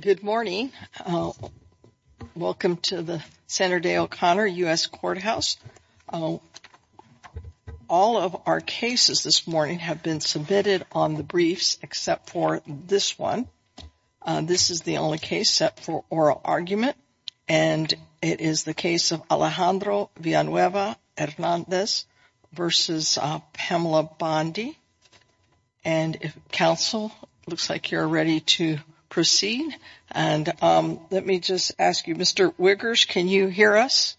Good morning. Welcome to the Senator Day O'Connor U.S. Courthouse. All of our cases this morning have been submitted on the briefs except for this one. This is the only case set for oral argument and it is the case of Alejandro Villanueva Hernandez versus Pamela Bondi. And counsel, looks like you're ready to proceed. And let me just ask you, Mr. Wiggers, can you hear us?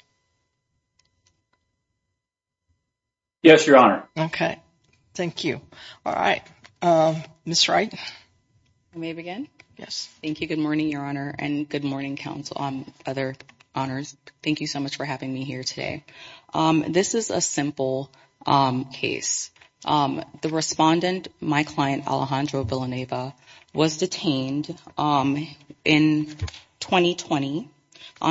Yes, Your Honor. Okay. Thank you. All right. Miss Wright. May I begin? Thank you. Good morning, Your Honor, and good morning, counsel, other honors. Thank you so much for having me here today. This is a simple case. The respondent, my client, Alejandro Villanueva, was detained in 2020.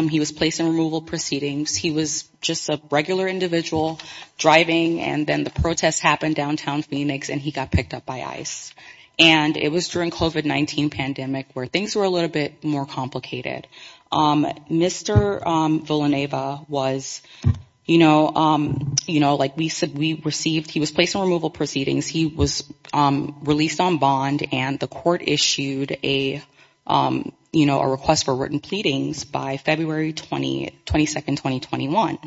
He was placed in removal proceedings. He was just a regular individual driving. And then the protests happened downtown Phoenix and he got picked up by ICE. And it was during COVID-19 pandemic where things were a little bit more complicated. Mr. Villanueva was, you know, you know, like we said, we received he was placed on removal proceedings. He was released on bond and the court issued a, you know, a request for written pleadings by February 22nd, 2021.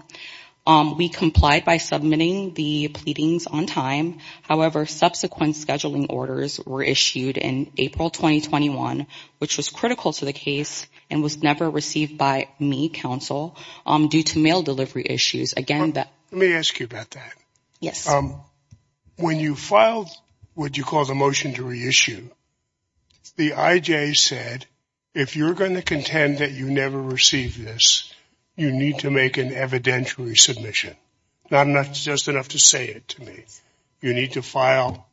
We complied by submitting the pleadings on time. However, subsequent scheduling orders were issued in April 2021, which was critical to the case and was never received by me, counsel, due to mail delivery issues again. Let me ask you about that. Yes. When you filed what you call the motion to reissue, the IJ said, if you're going to contend that you never received this, you need to make an evidentiary submission. Not enough, just enough to say it to me. You need to file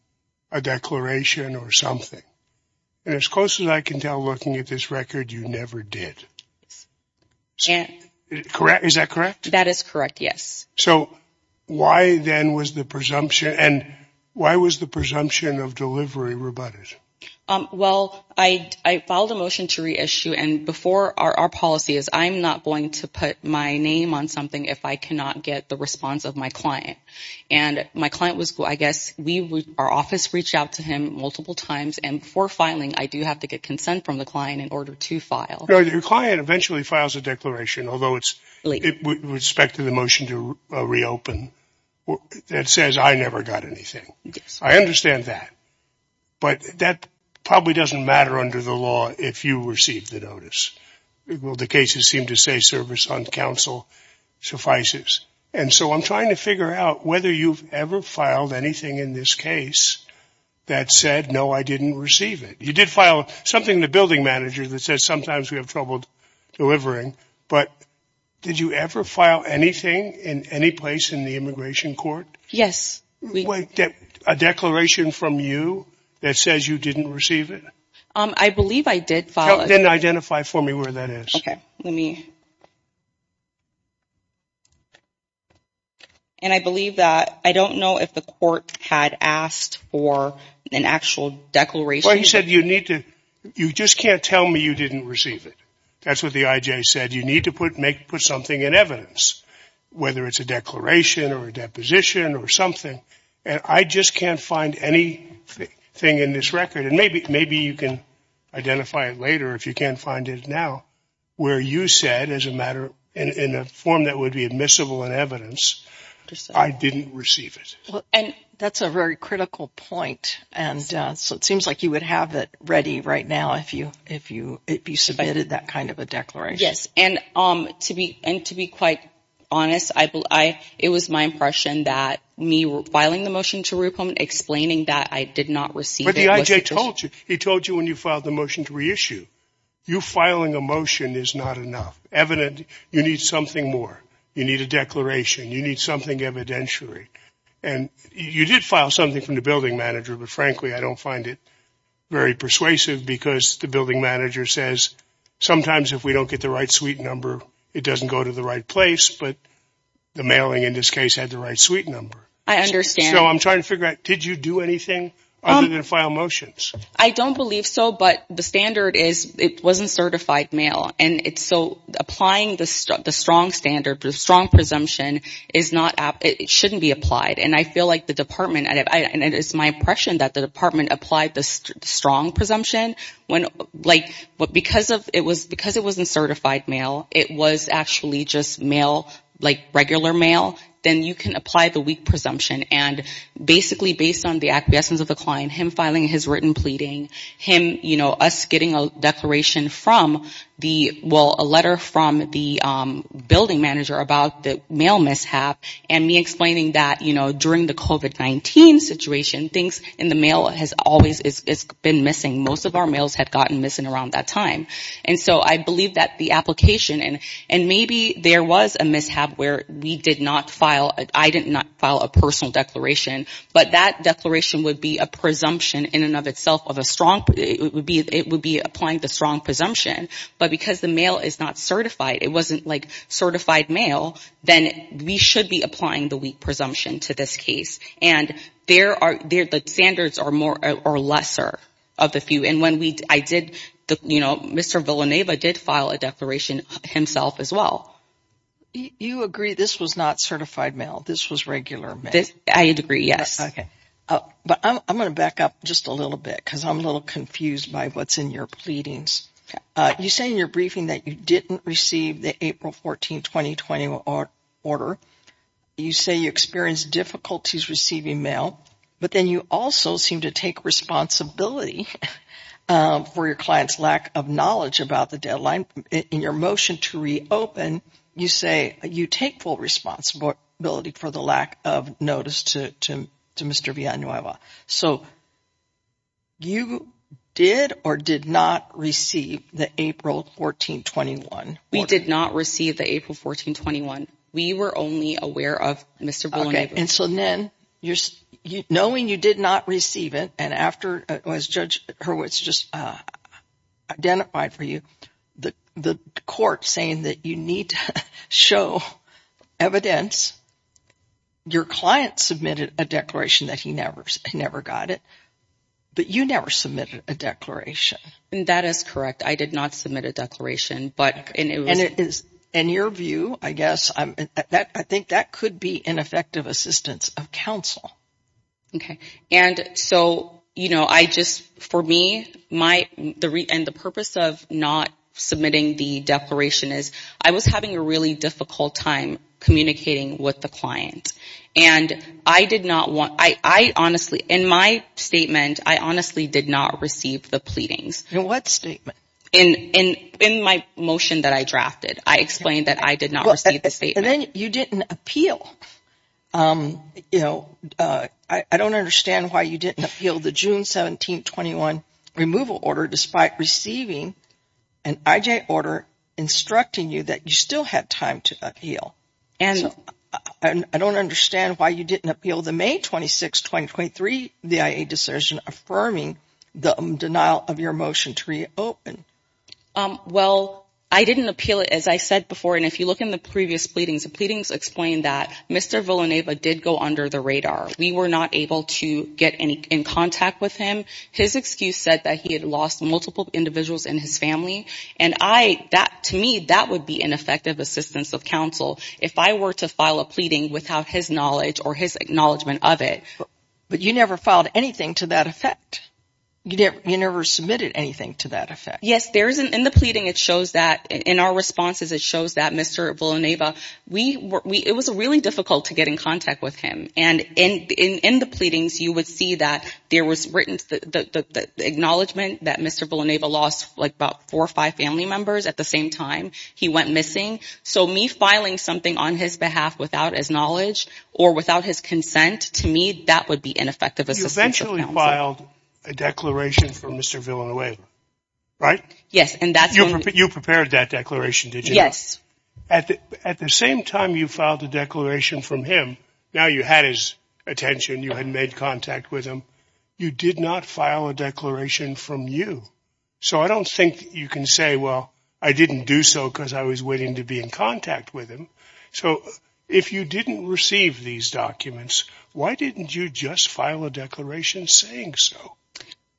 a declaration or something. And as close as I can tell, looking at this record, you never did. And correct. Is that correct? That is correct. Yes. So why then was the presumption and why was the presumption of delivery rebutted? Well, I I filed a motion to reissue and before our policy is I'm not going to put my name on something if I cannot get the response of my client. And my client was I guess we would our office reached out to him multiple times. And for filing, I do have to get consent from the client in order to file. Your client eventually files a declaration, although it's with respect to the motion to reopen. That says I never got anything. I understand that. But that probably doesn't matter under the law if you receive the notice. Well, the cases seem to say service on counsel suffices. And so I'm trying to figure out whether you've ever filed anything in this case that said, no, I didn't receive it. You did file something in the building manager that says sometimes we have trouble delivering. But did you ever file anything in any place in the immigration court? Yes. We get a declaration from you that says you didn't receive it. I believe I did file and identify for me where that is. OK, let me. And I believe that I don't know if the court had asked for an actual declaration. He said you need to you just can't tell me you didn't receive it. That's what the IJ said. You need to put make put something in evidence, whether it's a declaration or a deposition or something. And I just can't find any thing in this record. And maybe maybe you can identify it later if you can't find it now where you said as a matter in a form that would be admissible in evidence. I didn't receive it. And that's a very critical point. And so it seems like you would have it ready right now if you if you if you submitted that kind of a declaration. Yes. And to be and to be quite honest, I it was my impression that me filing the motion to explain that I did not receive it. I told you he told you when you filed the motion to reissue you filing a motion is not enough evidence. You need something more. You need a declaration. You need something evidentiary. And you did file something from the building manager. But frankly, I don't find it very persuasive because the building manager says sometimes if we don't get the right suite number, it doesn't go to the right place. But the mailing in this case had the right suite number. I understand. So I'm trying to figure out, did you do anything other than file motions? I don't believe so. But the standard is it wasn't certified mail. And it's so applying the strong standard, the strong presumption is not it shouldn't be applied. And I feel like the department and it is my impression that the department applied this strong presumption when like what? Because of it was because it wasn't certified mail, it was actually just mail like regular mail. Then you can apply the weak presumption and basically based on the acquiescence of the client, him filing his written pleading him, you know, us getting a declaration from the well, a letter from the building manager about the mail mishap and me explaining that, you know, during the covid-19 situation, things in the mail has always been missing. Most of our mails had gotten missing around that time. And so I believe that the application and and maybe there was a mishap where we did not file. I did not file a personal declaration, but that declaration would be a presumption in and of itself of a strong. It would be it would be applying the strong presumption. But because the mail is not certified, it wasn't like certified mail. Then we should be applying the weak presumption to this case. And there are there the standards are more or lesser of the few. And when we I did, you know, Mr. Villanueva did file a declaration himself as well. You agree this was not certified mail. This was regular. I agree. Yes. OK. But I'm going to back up just a little bit because I'm a little confused by what's in your pleadings. You say in your briefing that you didn't receive the April 14, 2020, or order. You say you experienced difficulties receiving mail, but then you also seem to take responsibility for your client's lack of knowledge about the deadline. In your motion to reopen, you say you take full responsibility for the lack of notice to Mr. Villanueva. So. You did or did not receive the April 14, 21. We did not receive the April 14, 21. We were only aware of Mr. OK. And so then you're knowing you did not receive it. And after it was Judge Hurwitz just identified for you the the court saying that you need to show evidence. Your client submitted a declaration that he never, never got it. But you never submitted a declaration. And that is correct. I did not submit a declaration. And it is in your view, I guess that I think that could be an effective assistance of counsel. OK. And so, you know, I just for me, my the and the purpose of not submitting the declaration is I was having a really difficult time communicating with the client. And I did not want I honestly in my statement, I honestly did not receive the pleadings. In what statement? In my motion that I drafted, I explained that I did not receive the statement. And then you didn't appeal. You know, I don't understand why you didn't appeal the June 17, 21 removal order, despite receiving an IJ order instructing you that you still had time to appeal. And I don't understand why you didn't appeal the May 26, 2023, the IA decision affirming the denial of your motion to reopen. Well, I didn't appeal it, as I said before. And if you look in the previous pleadings, the pleadings explained that Mr. Villanueva did go under the radar. We were not able to get any in contact with him. His excuse said that he had lost multiple individuals in his family. And I that to me, that would be ineffective assistance of counsel if I were to file a pleading without his knowledge or his acknowledgement of it. But you never filed anything to that effect. You never submitted anything to that effect. Yes, there isn't in the pleading. It shows that in our responses, it shows that Mr. Villanueva, we it was really difficult to get in contact with him. And in in the pleadings, you would see that there was written that the acknowledgement that Mr. Villanueva lost like about four or five family members at the same time he went missing. So me filing something on his behalf without his knowledge or without his consent to me, that would be ineffective. Essentially, you filed a declaration for Mr. Villanueva, right? Yes. And that's you prepared that declaration. Yes. At the same time, you filed a declaration from him. Now you had his attention. You had made contact with him. You did not file a declaration from you. So I don't think you can say, well, I didn't do so because I was waiting to be in contact with him. So if you didn't receive these documents, why didn't you just file a declaration saying so?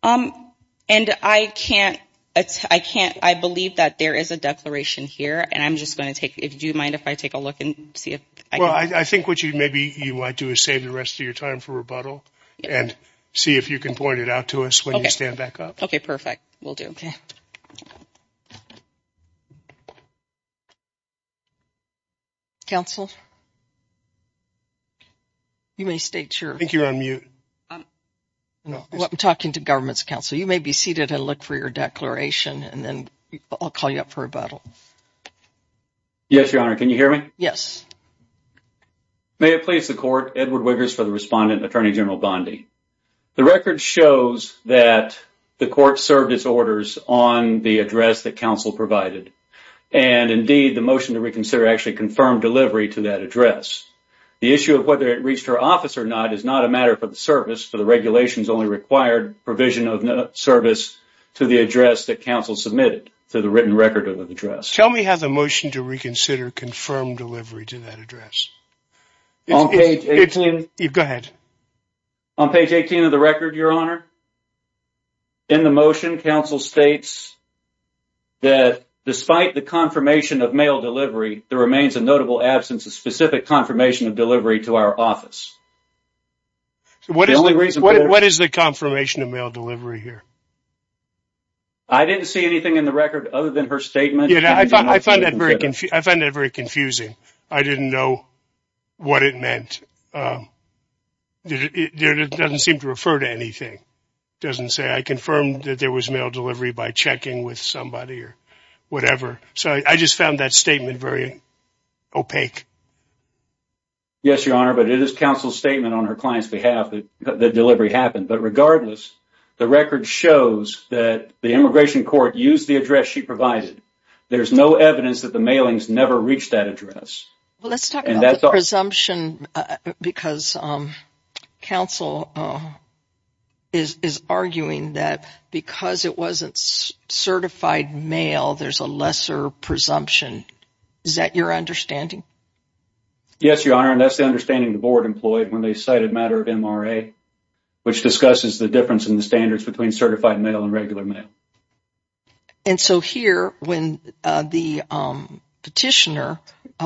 And I can't. I can't. I believe that there is a declaration here. And I'm just going to take it. Do you mind if I take a look and see if I think what you maybe you might do is save the rest of your time for rebuttal and see if you can point it out to us when I stand back up. OK, perfect. We'll do. OK. Counsel. You may state your think you're on mute. No, I'm talking to government's counsel. You may be seated and look for your declaration and then I'll call you up for rebuttal. Yes, Your Honor. Can you hear me? Yes. May it please the court. Edward Wiggers for the respondent. Attorney General Bondi. The record shows that the court served its orders on the address that counsel provided. And indeed, the motion to reconsider actually confirmed delivery to that address. The issue of whether it reached her office or not is not a matter for the service. So the regulations only required provision of service to the address that counsel submitted to the written record of the address. Tell me how the motion to reconsider confirmed delivery to that address. Go ahead. On page 18 of the record, Your Honor. In the motion, counsel states. That despite the confirmation of mail delivery, there remains a notable absence of specific confirmation of delivery to our office. What is the reason? What is the confirmation of mail delivery here? I didn't see anything in the record other than her statement. I find that very confusing. I didn't know what it meant. It doesn't seem to refer to anything. It doesn't say I confirmed that there was mail delivery by checking with somebody or whatever. So I just found that statement very opaque. Yes, Your Honor. But it is counsel's statement on her client's behalf that the delivery happened. But regardless, the record shows that the immigration court used the address she provided. There's no evidence that the mailings never reached that address. Let's talk about the presumption because counsel is arguing that because it wasn't certified mail, there's a lesser presumption. Is that your understanding? Yes, Your Honor. And that's the understanding the board employed when they cited a matter of MRA, which discusses the difference in the standards between certified mail and regular mail. And so here, when the petitioner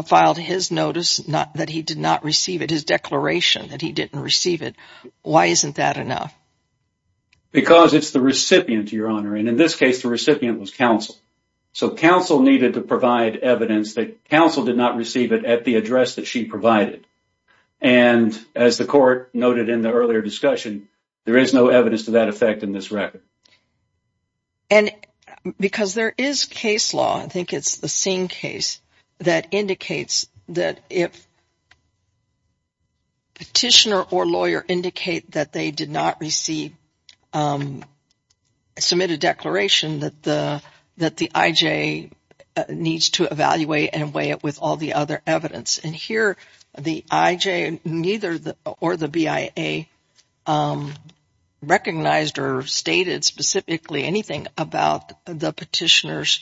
filed his notice that he did not receive it, his declaration that he didn't receive it, why isn't that enough? Because it's the recipient, Your Honor. And in this case, the recipient was counsel. So counsel needed to provide evidence that counsel did not receive it at the address that she provided. And as the court noted in the earlier discussion, there is no evidence to that effect in this record. And because there is case law, I think it's the Singh case, that indicates that if petitioner or lawyer indicate that they did not receive, submit a declaration that the IJ needs to evaluate and weigh it with all the other evidence. And here, the IJ or the BIA recognized or stated specifically anything about the petitioner's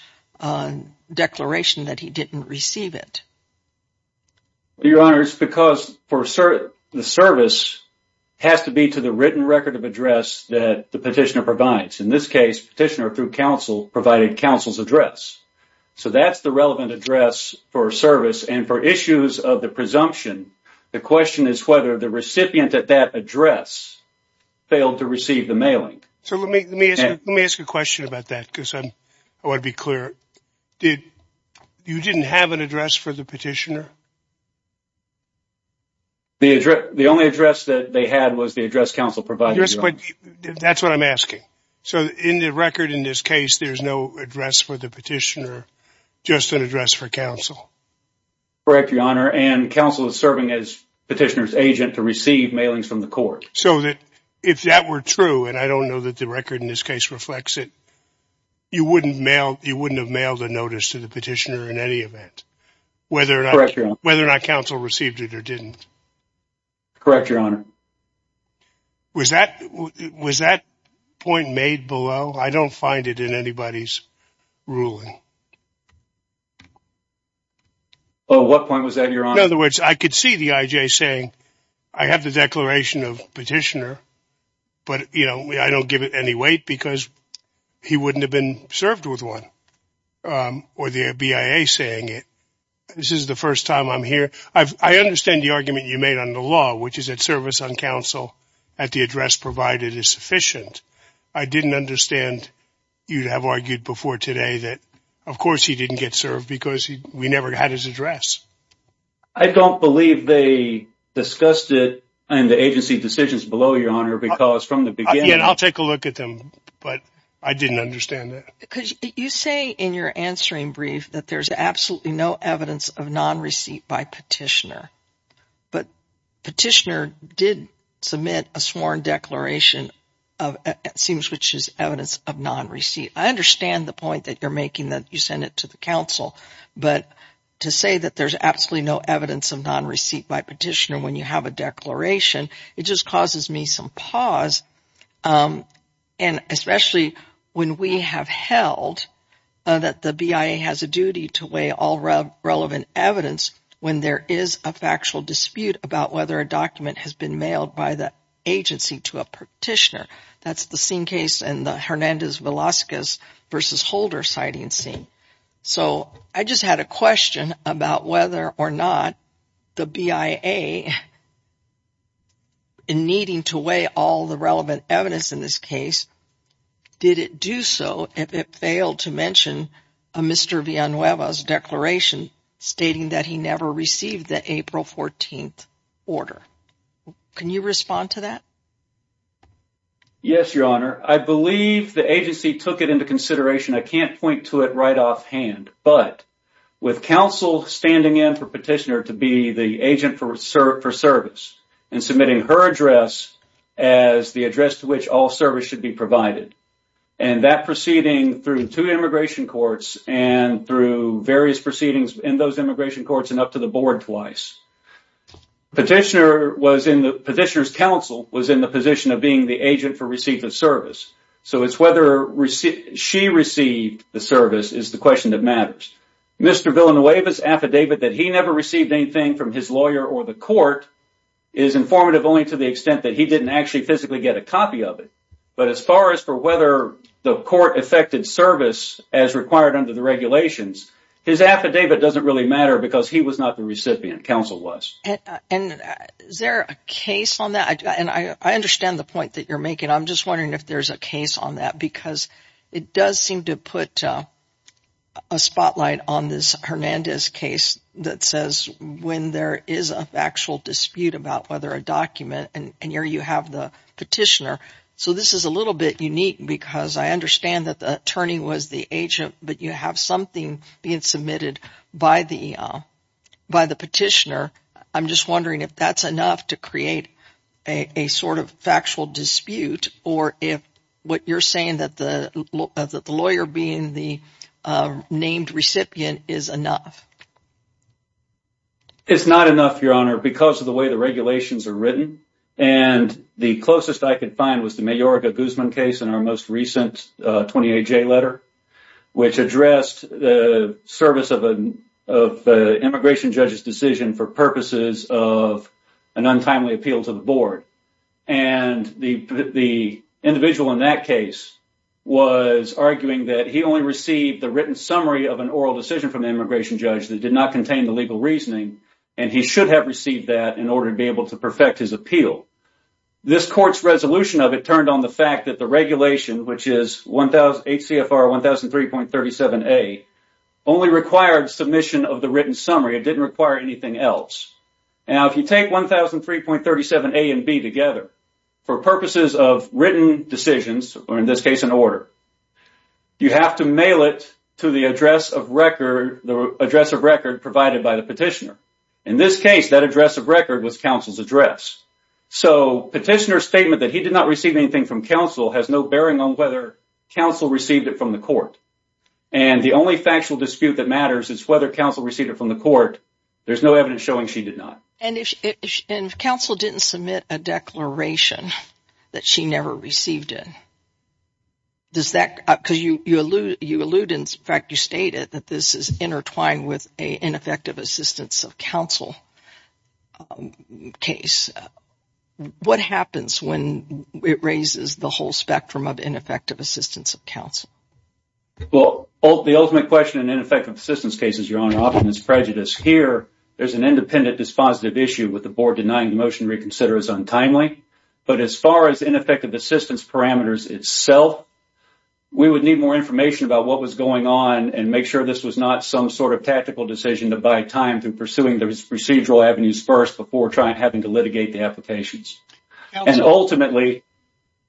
declaration that he didn't receive it. Your Honor, it's because the service has to be to the written record of address that the petitioner provides. In this case, petitioner through counsel provided counsel's address. So that's the relevant address for service. And for issues of the presumption, the question is whether the recipient at that address failed to receive the mailing. So let me ask a question about that because I want to be clear. You didn't have an address for the petitioner? The only address that they had was the address counsel provided. That's what I'm asking. So in the record in this case, there's no address for the petitioner, just an address for counsel. Correct, Your Honor. And counsel is serving as petitioner's agent to receive mailings from the court. So if that were true, and I don't know that the record in this case reflects it, you wouldn't have mailed a notice to the petitioner in any event. Correct, Your Honor. Whether or not counsel received it or didn't. Correct, Your Honor. Was that point made below? I don't find it in anybody's ruling. Oh, what point was that, Your Honor? In other words, I could see the IJ saying, I have the declaration of petitioner, but I don't give it any weight because he wouldn't have been served with one. Or the BIA saying it. This is the first time I'm here. I understand the argument you made on the law, which is that service on counsel at the address provided is sufficient. I didn't understand you'd have argued before today that, of course, he didn't get served because we never had his address. I don't believe they discussed it in the agency decisions below, Your Honor, because from the beginning. I'll take a look at them, but I didn't understand that. Because you say in your answering brief that there's absolutely no evidence of non receipt by petitioner. But petitioner did submit a sworn declaration of seems which is evidence of non receipt. I understand the point that you're making that you send it to the council. But to say that there's absolutely no evidence of non receipt by petitioner when you have a declaration, it just causes me some pause. And especially when we have held that the BIA has a duty to weigh all relevant evidence when there is a factual dispute about whether a document has been mailed by the agency to a petitioner. That's the same case in the Hernandez Velasquez versus Holder sighting scene. So I just had a question about whether or not the BIA in needing to weigh all the relevant evidence in this case. Did it do so if it failed to mention a Mr. Villanueva's declaration stating that he never received the April 14th order? Can you respond to that? Yes, Your Honor. I believe the agency took it into consideration. I can't point to it right off hand. But with counsel standing in for petitioner to be the agent for service and submitting her address as the address to which all service should be provided. And that proceeding through two immigration courts and through various proceedings in those immigration courts and up to the board twice. Petitioner's counsel was in the position of being the agent for receipt of service. So it's whether she received the service is the question that matters. Mr. Villanueva's affidavit that he never received anything from his lawyer or the court is informative only to the extent that he didn't actually physically get a copy of it. But as far as for whether the court affected service as required under the regulations, his affidavit doesn't really matter because he was not the recipient. Counsel was. And is there a case on that? And I understand the point that you're making. I'm just wondering if there's a case on that because it does seem to put a spotlight on this Hernandez case that says when there is a factual dispute about whether a document and here you have the petitioner. So this is a little bit unique because I understand that the attorney was the agent, but you have something being submitted by the by the petitioner. I'm just wondering if that's enough to create a sort of factual dispute or if what you're saying that the lawyer being the named recipient is enough. It's not enough, Your Honor, because of the way the regulations are written. And the closest I could find was the Mayorka Guzman case in our most recent 28 letter, which addressed the service of an immigration judge's decision for purposes of an untimely appeal to the board. And the individual in that case was arguing that he only received the written summary of an oral decision from the immigration judge that did not contain the legal reasoning. And he should have received that in order to be able to perfect his appeal. This court's resolution of it turned on the fact that the regulation, which is one thousand eight CFR one thousand three point thirty seven a only required submission of the written summary. It didn't require anything else. Now, if you take one thousand three point thirty seven a and b together for purposes of written decisions or in this case, an order, you have to mail it to the address of record, the address of record provided by the petitioner. In this case, that address of record was counsel's address. So petitioner statement that he did not receive anything from counsel has no bearing on whether counsel received it from the court. And the only factual dispute that matters is whether counsel received it from the court. There's no evidence showing she did not. And if counsel didn't submit a declaration that she never received it. Does that because you you allude you allude, in fact, you stated that this is intertwined with a ineffective assistance of counsel case. What happens when it raises the whole spectrum of ineffective assistance of counsel? Well, the ultimate question and ineffective assistance cases, your honor, often is prejudice. Here there's an independent dispositive issue with the board denying the motion reconsider is untimely. But as far as ineffective assistance parameters itself, we would need more information about what was going on and make sure this was not some sort of tactical decision to buy time to pursuing the procedural avenues first before trying having to litigate the applications. And ultimately.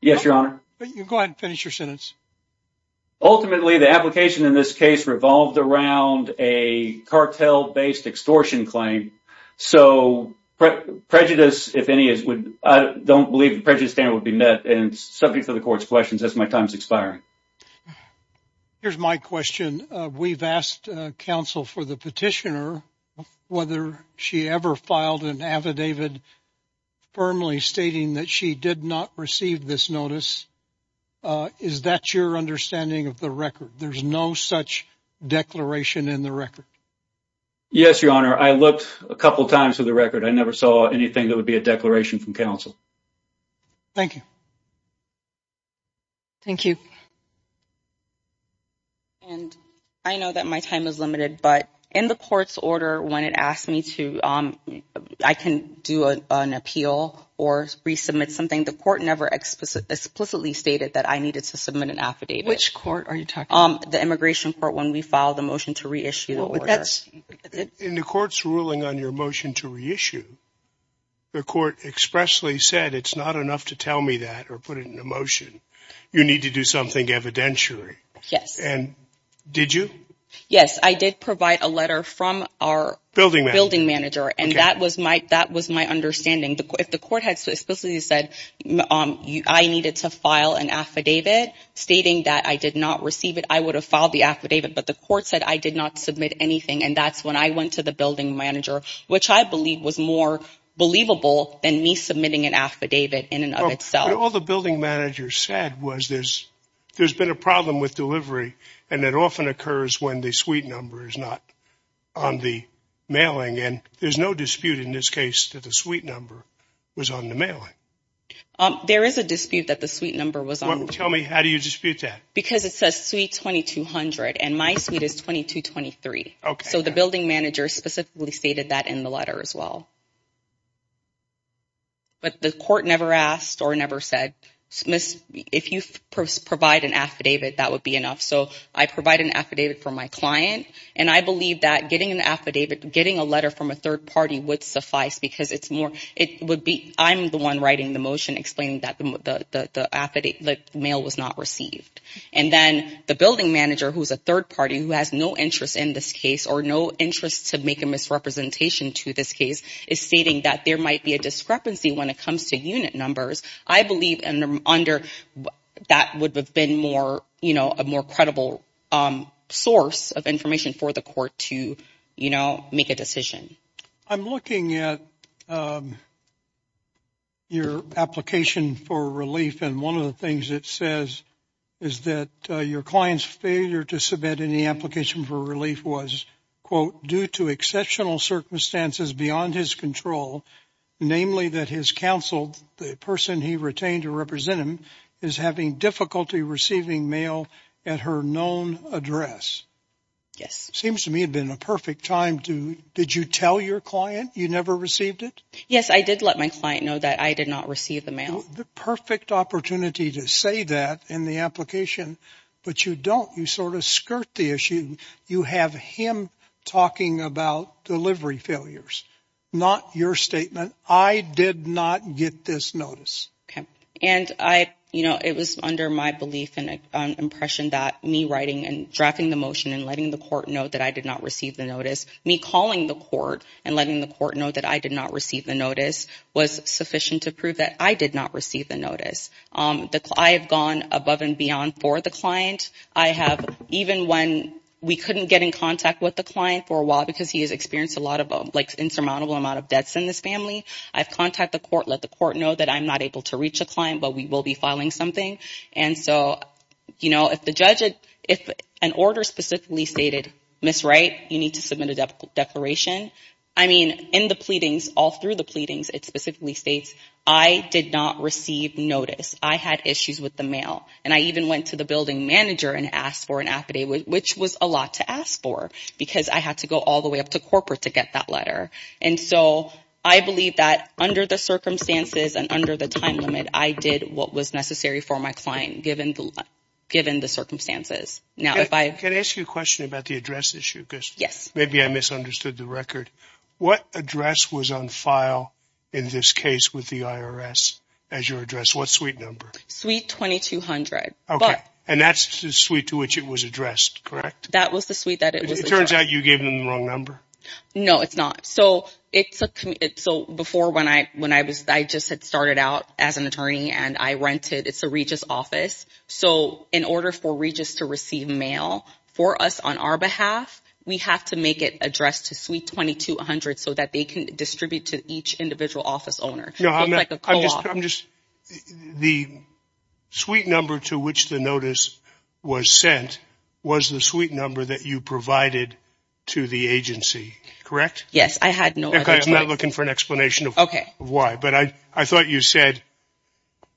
Yes, your honor. You go and finish your sentence. Ultimately, the application in this case revolved around a cartel based extortion claim. So prejudice, if any, is I don't believe the prejudice standard would be met and subject to the court's questions as my time is expiring. Here's my question. We've asked counsel for the petitioner whether she ever filed an affidavit firmly stating that she did not receive this notice. Is that your understanding of the record? There's no such declaration in the record. Yes, your honor. I looked a couple of times for the record. I never saw anything that would be a declaration from counsel. Thank you. Thank you. And I know that my time is limited, but in the court's order, when it asked me to, I can do an appeal or resubmit something. The court never explicitly stated that I needed to submit an affidavit. Which court are you talking about? The immigration court when we filed the motion to reissue the order. In the court's ruling on your motion to reissue, the court expressly said it's not enough to tell me that or put it in a motion. You need to do something evidentiary. Yes. And did you? Yes, I did provide a letter from our building manager, and that was my understanding. If the court had explicitly said I needed to file an affidavit stating that I did not receive it, I would have filed the affidavit. But the court said I did not submit anything, and that's when I went to the building manager, which I believe was more believable than me submitting an affidavit in and of itself. All the building manager said was there's been a problem with delivery, and it often occurs when the suite number is not on the mailing. And there's no dispute in this case that the suite number was on the mailing. There is a dispute that the suite number was on the mailing. Tell me, how do you dispute that? Because it says suite 2200, and my suite is 2223. So the building manager specifically stated that in the letter as well. But the court never asked or never said, Miss, if you provide an affidavit, that would be enough. So I provide an affidavit for my client, and I believe that getting an affidavit, getting a letter from a third party would suffice, because it would be I'm the one writing the motion explaining that the mail was not received. And then the building manager, who is a third party, who has no interest in this case or no interest to make a misrepresentation to this case, is stating that there might be a discrepancy when it comes to unit numbers. I believe under that would have been more, you know, a more credible source of information for the court to, you know, make a decision. I'm looking at your application for relief, and one of the things it says is that your client's failure to submit any application for relief was, quote, due to exceptional circumstances beyond his control, namely that his counsel, the person he retained to represent him, is having difficulty receiving mail at her known address. Yes. Seems to me had been a perfect time to, did you tell your client you never received it? Yes, I did let my client know that I did not receive the mail. The perfect opportunity to say that in the application, but you don't. You sort of skirt the issue. You have him talking about delivery failures, not your statement. I did not get this notice. Okay. And I, you know, it was under my belief and impression that me writing and drafting the motion and letting the court know that I did not receive the notice, me calling the court and letting the court know that I did not receive the notice was sufficient to prove that I did not receive the notice. I have gone above and beyond for the client. I have, even when we couldn't get in contact with the client for a while because he has experienced a lot of, like, insurmountable amount of debts in this family, I've contacted the court, let the court know that I'm not able to reach a client, but we will be filing something. And so, you know, if the judge, if an order specifically stated, Miss Wright, you need to submit a declaration, I mean, in the pleadings, all through the pleadings, it specifically states I did not receive notice. I had issues with the mail, and I even went to the building manager and asked for an affidavit, which was a lot to ask for because I had to go all the way up to corporate to get that letter. And so I believe that under the circumstances and under the time limit, I did what was necessary for my client given the circumstances. Now, if I – Can I ask you a question about the address issue? Yes. Maybe I misunderstood the record. What address was on file in this case with the IRS as your address? What suite number? Suite 2200. Okay. And that's the suite to which it was addressed, correct? That was the suite that it was addressed. It turns out you gave them the wrong number. No, it's not. So it's a – so before when I was – I just had started out as an attorney and I rented – it's a Regis office. So in order for Regis to receive mail for us on our behalf, we have to make it addressed to suite 2200 so that they can distribute to each individual office owner. It's like a co-op. The suite number to which the notice was sent was the suite number that you provided to the agency, correct? I had no other choice. Okay. I'm not looking for an explanation of why. But I thought you said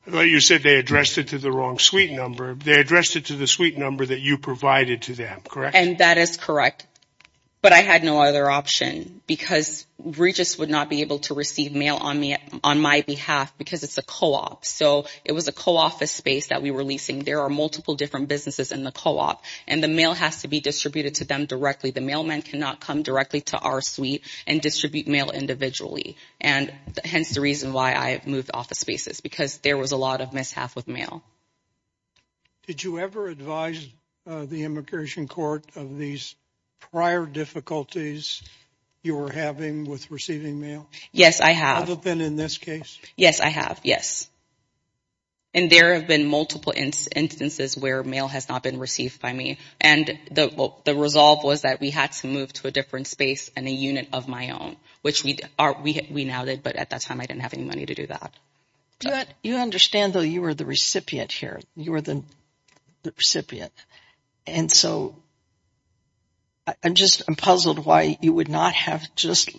they addressed it to the wrong suite number. They addressed it to the suite number that you provided to them, correct? And that is correct. But I had no other option because Regis would not be able to receive mail on my behalf because it's a co-op. So it was a co-office space that we were leasing. There are multiple different businesses in the co-op, and the mail has to be distributed to them directly. The mailman cannot come directly to our suite and distribute mail individually, and hence the reason why I have moved office spaces because there was a lot of mishap with mail. Did you ever advise the immigration court of these prior difficulties you were having with receiving mail? Yes, I have. Other than in this case? Yes, I have. Yes. And there have been multiple instances where mail has not been received by me, and the resolve was that we had to move to a different space and a unit of my own, which we now did, but at that time I didn't have any money to do that. You understand, though, you were the recipient here. You were the recipient, and so I'm just puzzled why you would not have just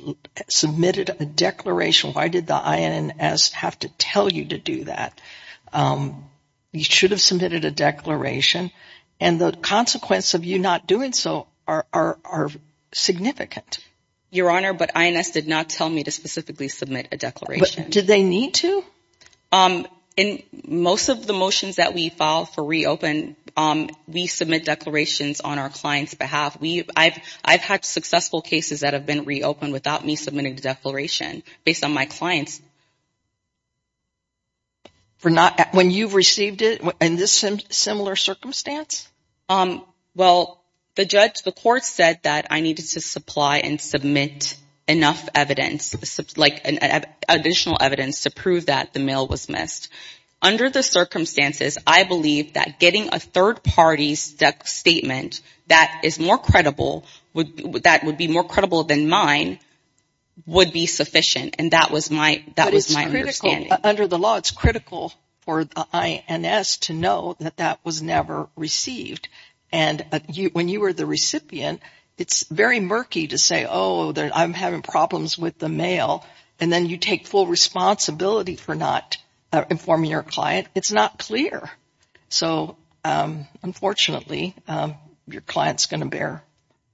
submitted a declaration. Why did the INS have to tell you to do that? You should have submitted a declaration, and the consequence of you not doing so are significant. Your Honor, but INS did not tell me to specifically submit a declaration. Did they need to? In most of the motions that we file for reopen, we submit declarations on our client's behalf. I've had successful cases that have been reopened without me submitting a declaration based on my clients. When you've received it, in this similar circumstance? Well, the court said that I needed to supply and submit enough evidence, like additional evidence to prove that the mail was missed. Under the circumstances, I believe that getting a third-party statement that is more credible, that would be more credible than mine, would be sufficient, and that was my understanding. But it's critical. Under the law, it's critical for the INS to know that that was never received, and when you were the recipient, it's very murky to say, oh, I'm having problems with the mail, and then you take full responsibility for not informing your client. It's not clear. So, unfortunately, your client's going to bear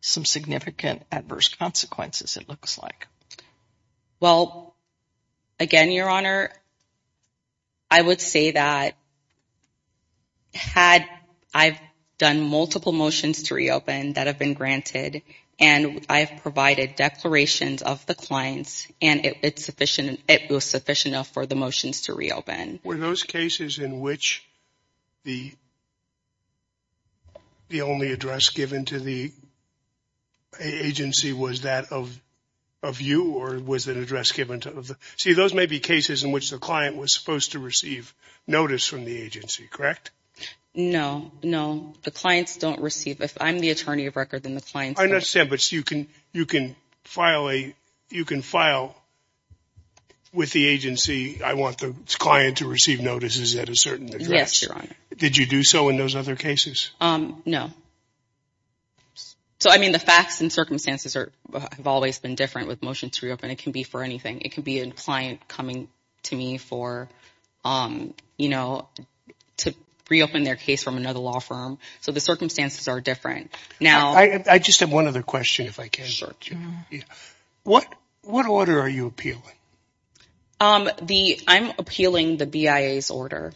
some significant adverse consequences, it looks like. Well, again, Your Honor, I would say that had I done multiple motions to reopen that have been granted, and I've provided declarations of the clients, and it was sufficient enough for the motions to reopen. Were those cases in which the only address given to the agency was that of you, or was it an address given to the – see, those may be cases in which the client was supposed to receive notice from the agency, correct? No, no. The clients don't receive – if I'm the attorney of record, then the clients don't. I understand, but you can file with the agency, I want the client to receive notices at a certain address. Yes, Your Honor. Did you do so in those other cases? No. So, I mean, the facts and circumstances have always been different with motions to reopen. It can be for anything. It can be a client coming to me for, you know, to reopen their case from another law firm. So the circumstances are different. Now – I just have one other question, if I can. What order are you appealing? I'm appealing the BIA's order.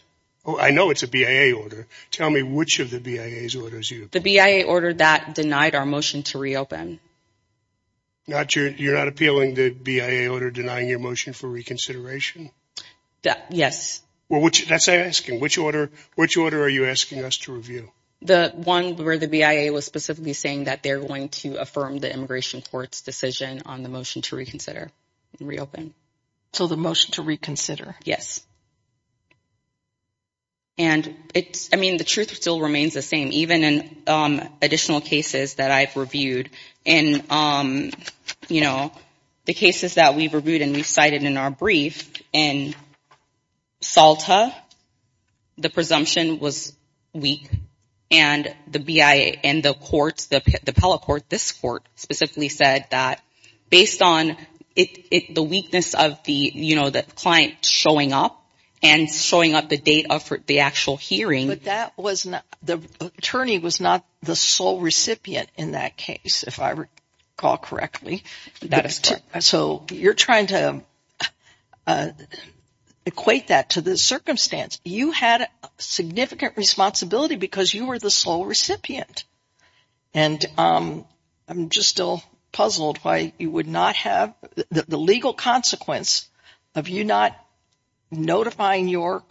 Oh, I know it's a BIA order. Tell me which of the BIA's orders you – The BIA order that denied our motion to reopen. You're not appealing the BIA order denying your motion for reconsideration? Yes. Well, that's asking. Which order are you asking us to review? The one where the BIA was specifically saying that they're going to affirm the immigration court's decision on the motion to reconsider and reopen. So the motion to reconsider. Yes. And it's – I mean, the truth still remains the same. Even in additional cases that I've reviewed. In, you know, the cases that we've reviewed and we've cited in our brief, in Salta, the presumption was weak. And the BIA and the courts, the appellate court, this court, specifically said that based on the weakness of the, you know, the client showing up and showing up the date of the actual hearing – The attorney was not the sole recipient in that case, if I recall correctly. That is correct. So you're trying to equate that to the circumstance. You had significant responsibility because you were the sole recipient. And I'm just still puzzled why you would not have – the legal consequence of you not notifying your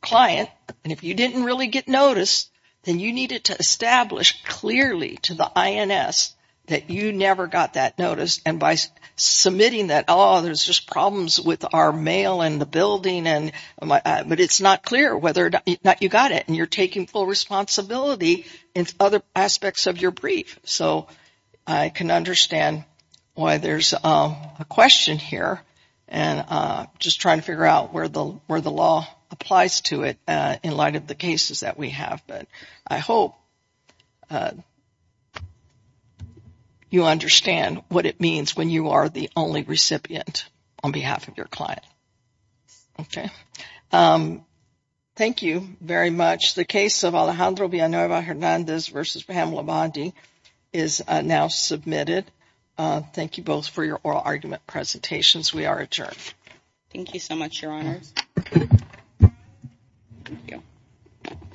client, and if you didn't really get notice, then you needed to establish clearly to the INS that you never got that notice. And by submitting that, oh, there's just problems with our mail and the building, but it's not clear whether or not you got it. And you're taking full responsibility in other aspects of your brief. So I can understand why there's a question here, and just trying to figure out where the law applies to it in light of the cases that we have. But I hope you understand what it means when you are the only recipient on behalf of your client. Okay. Thank you very much. The case of Alejandro Villanueva-Hernandez v. Pamela Bondi is now submitted. Thank you both for your oral argument presentations. We are adjourned. Thank you so much, Your Honors. Thank you.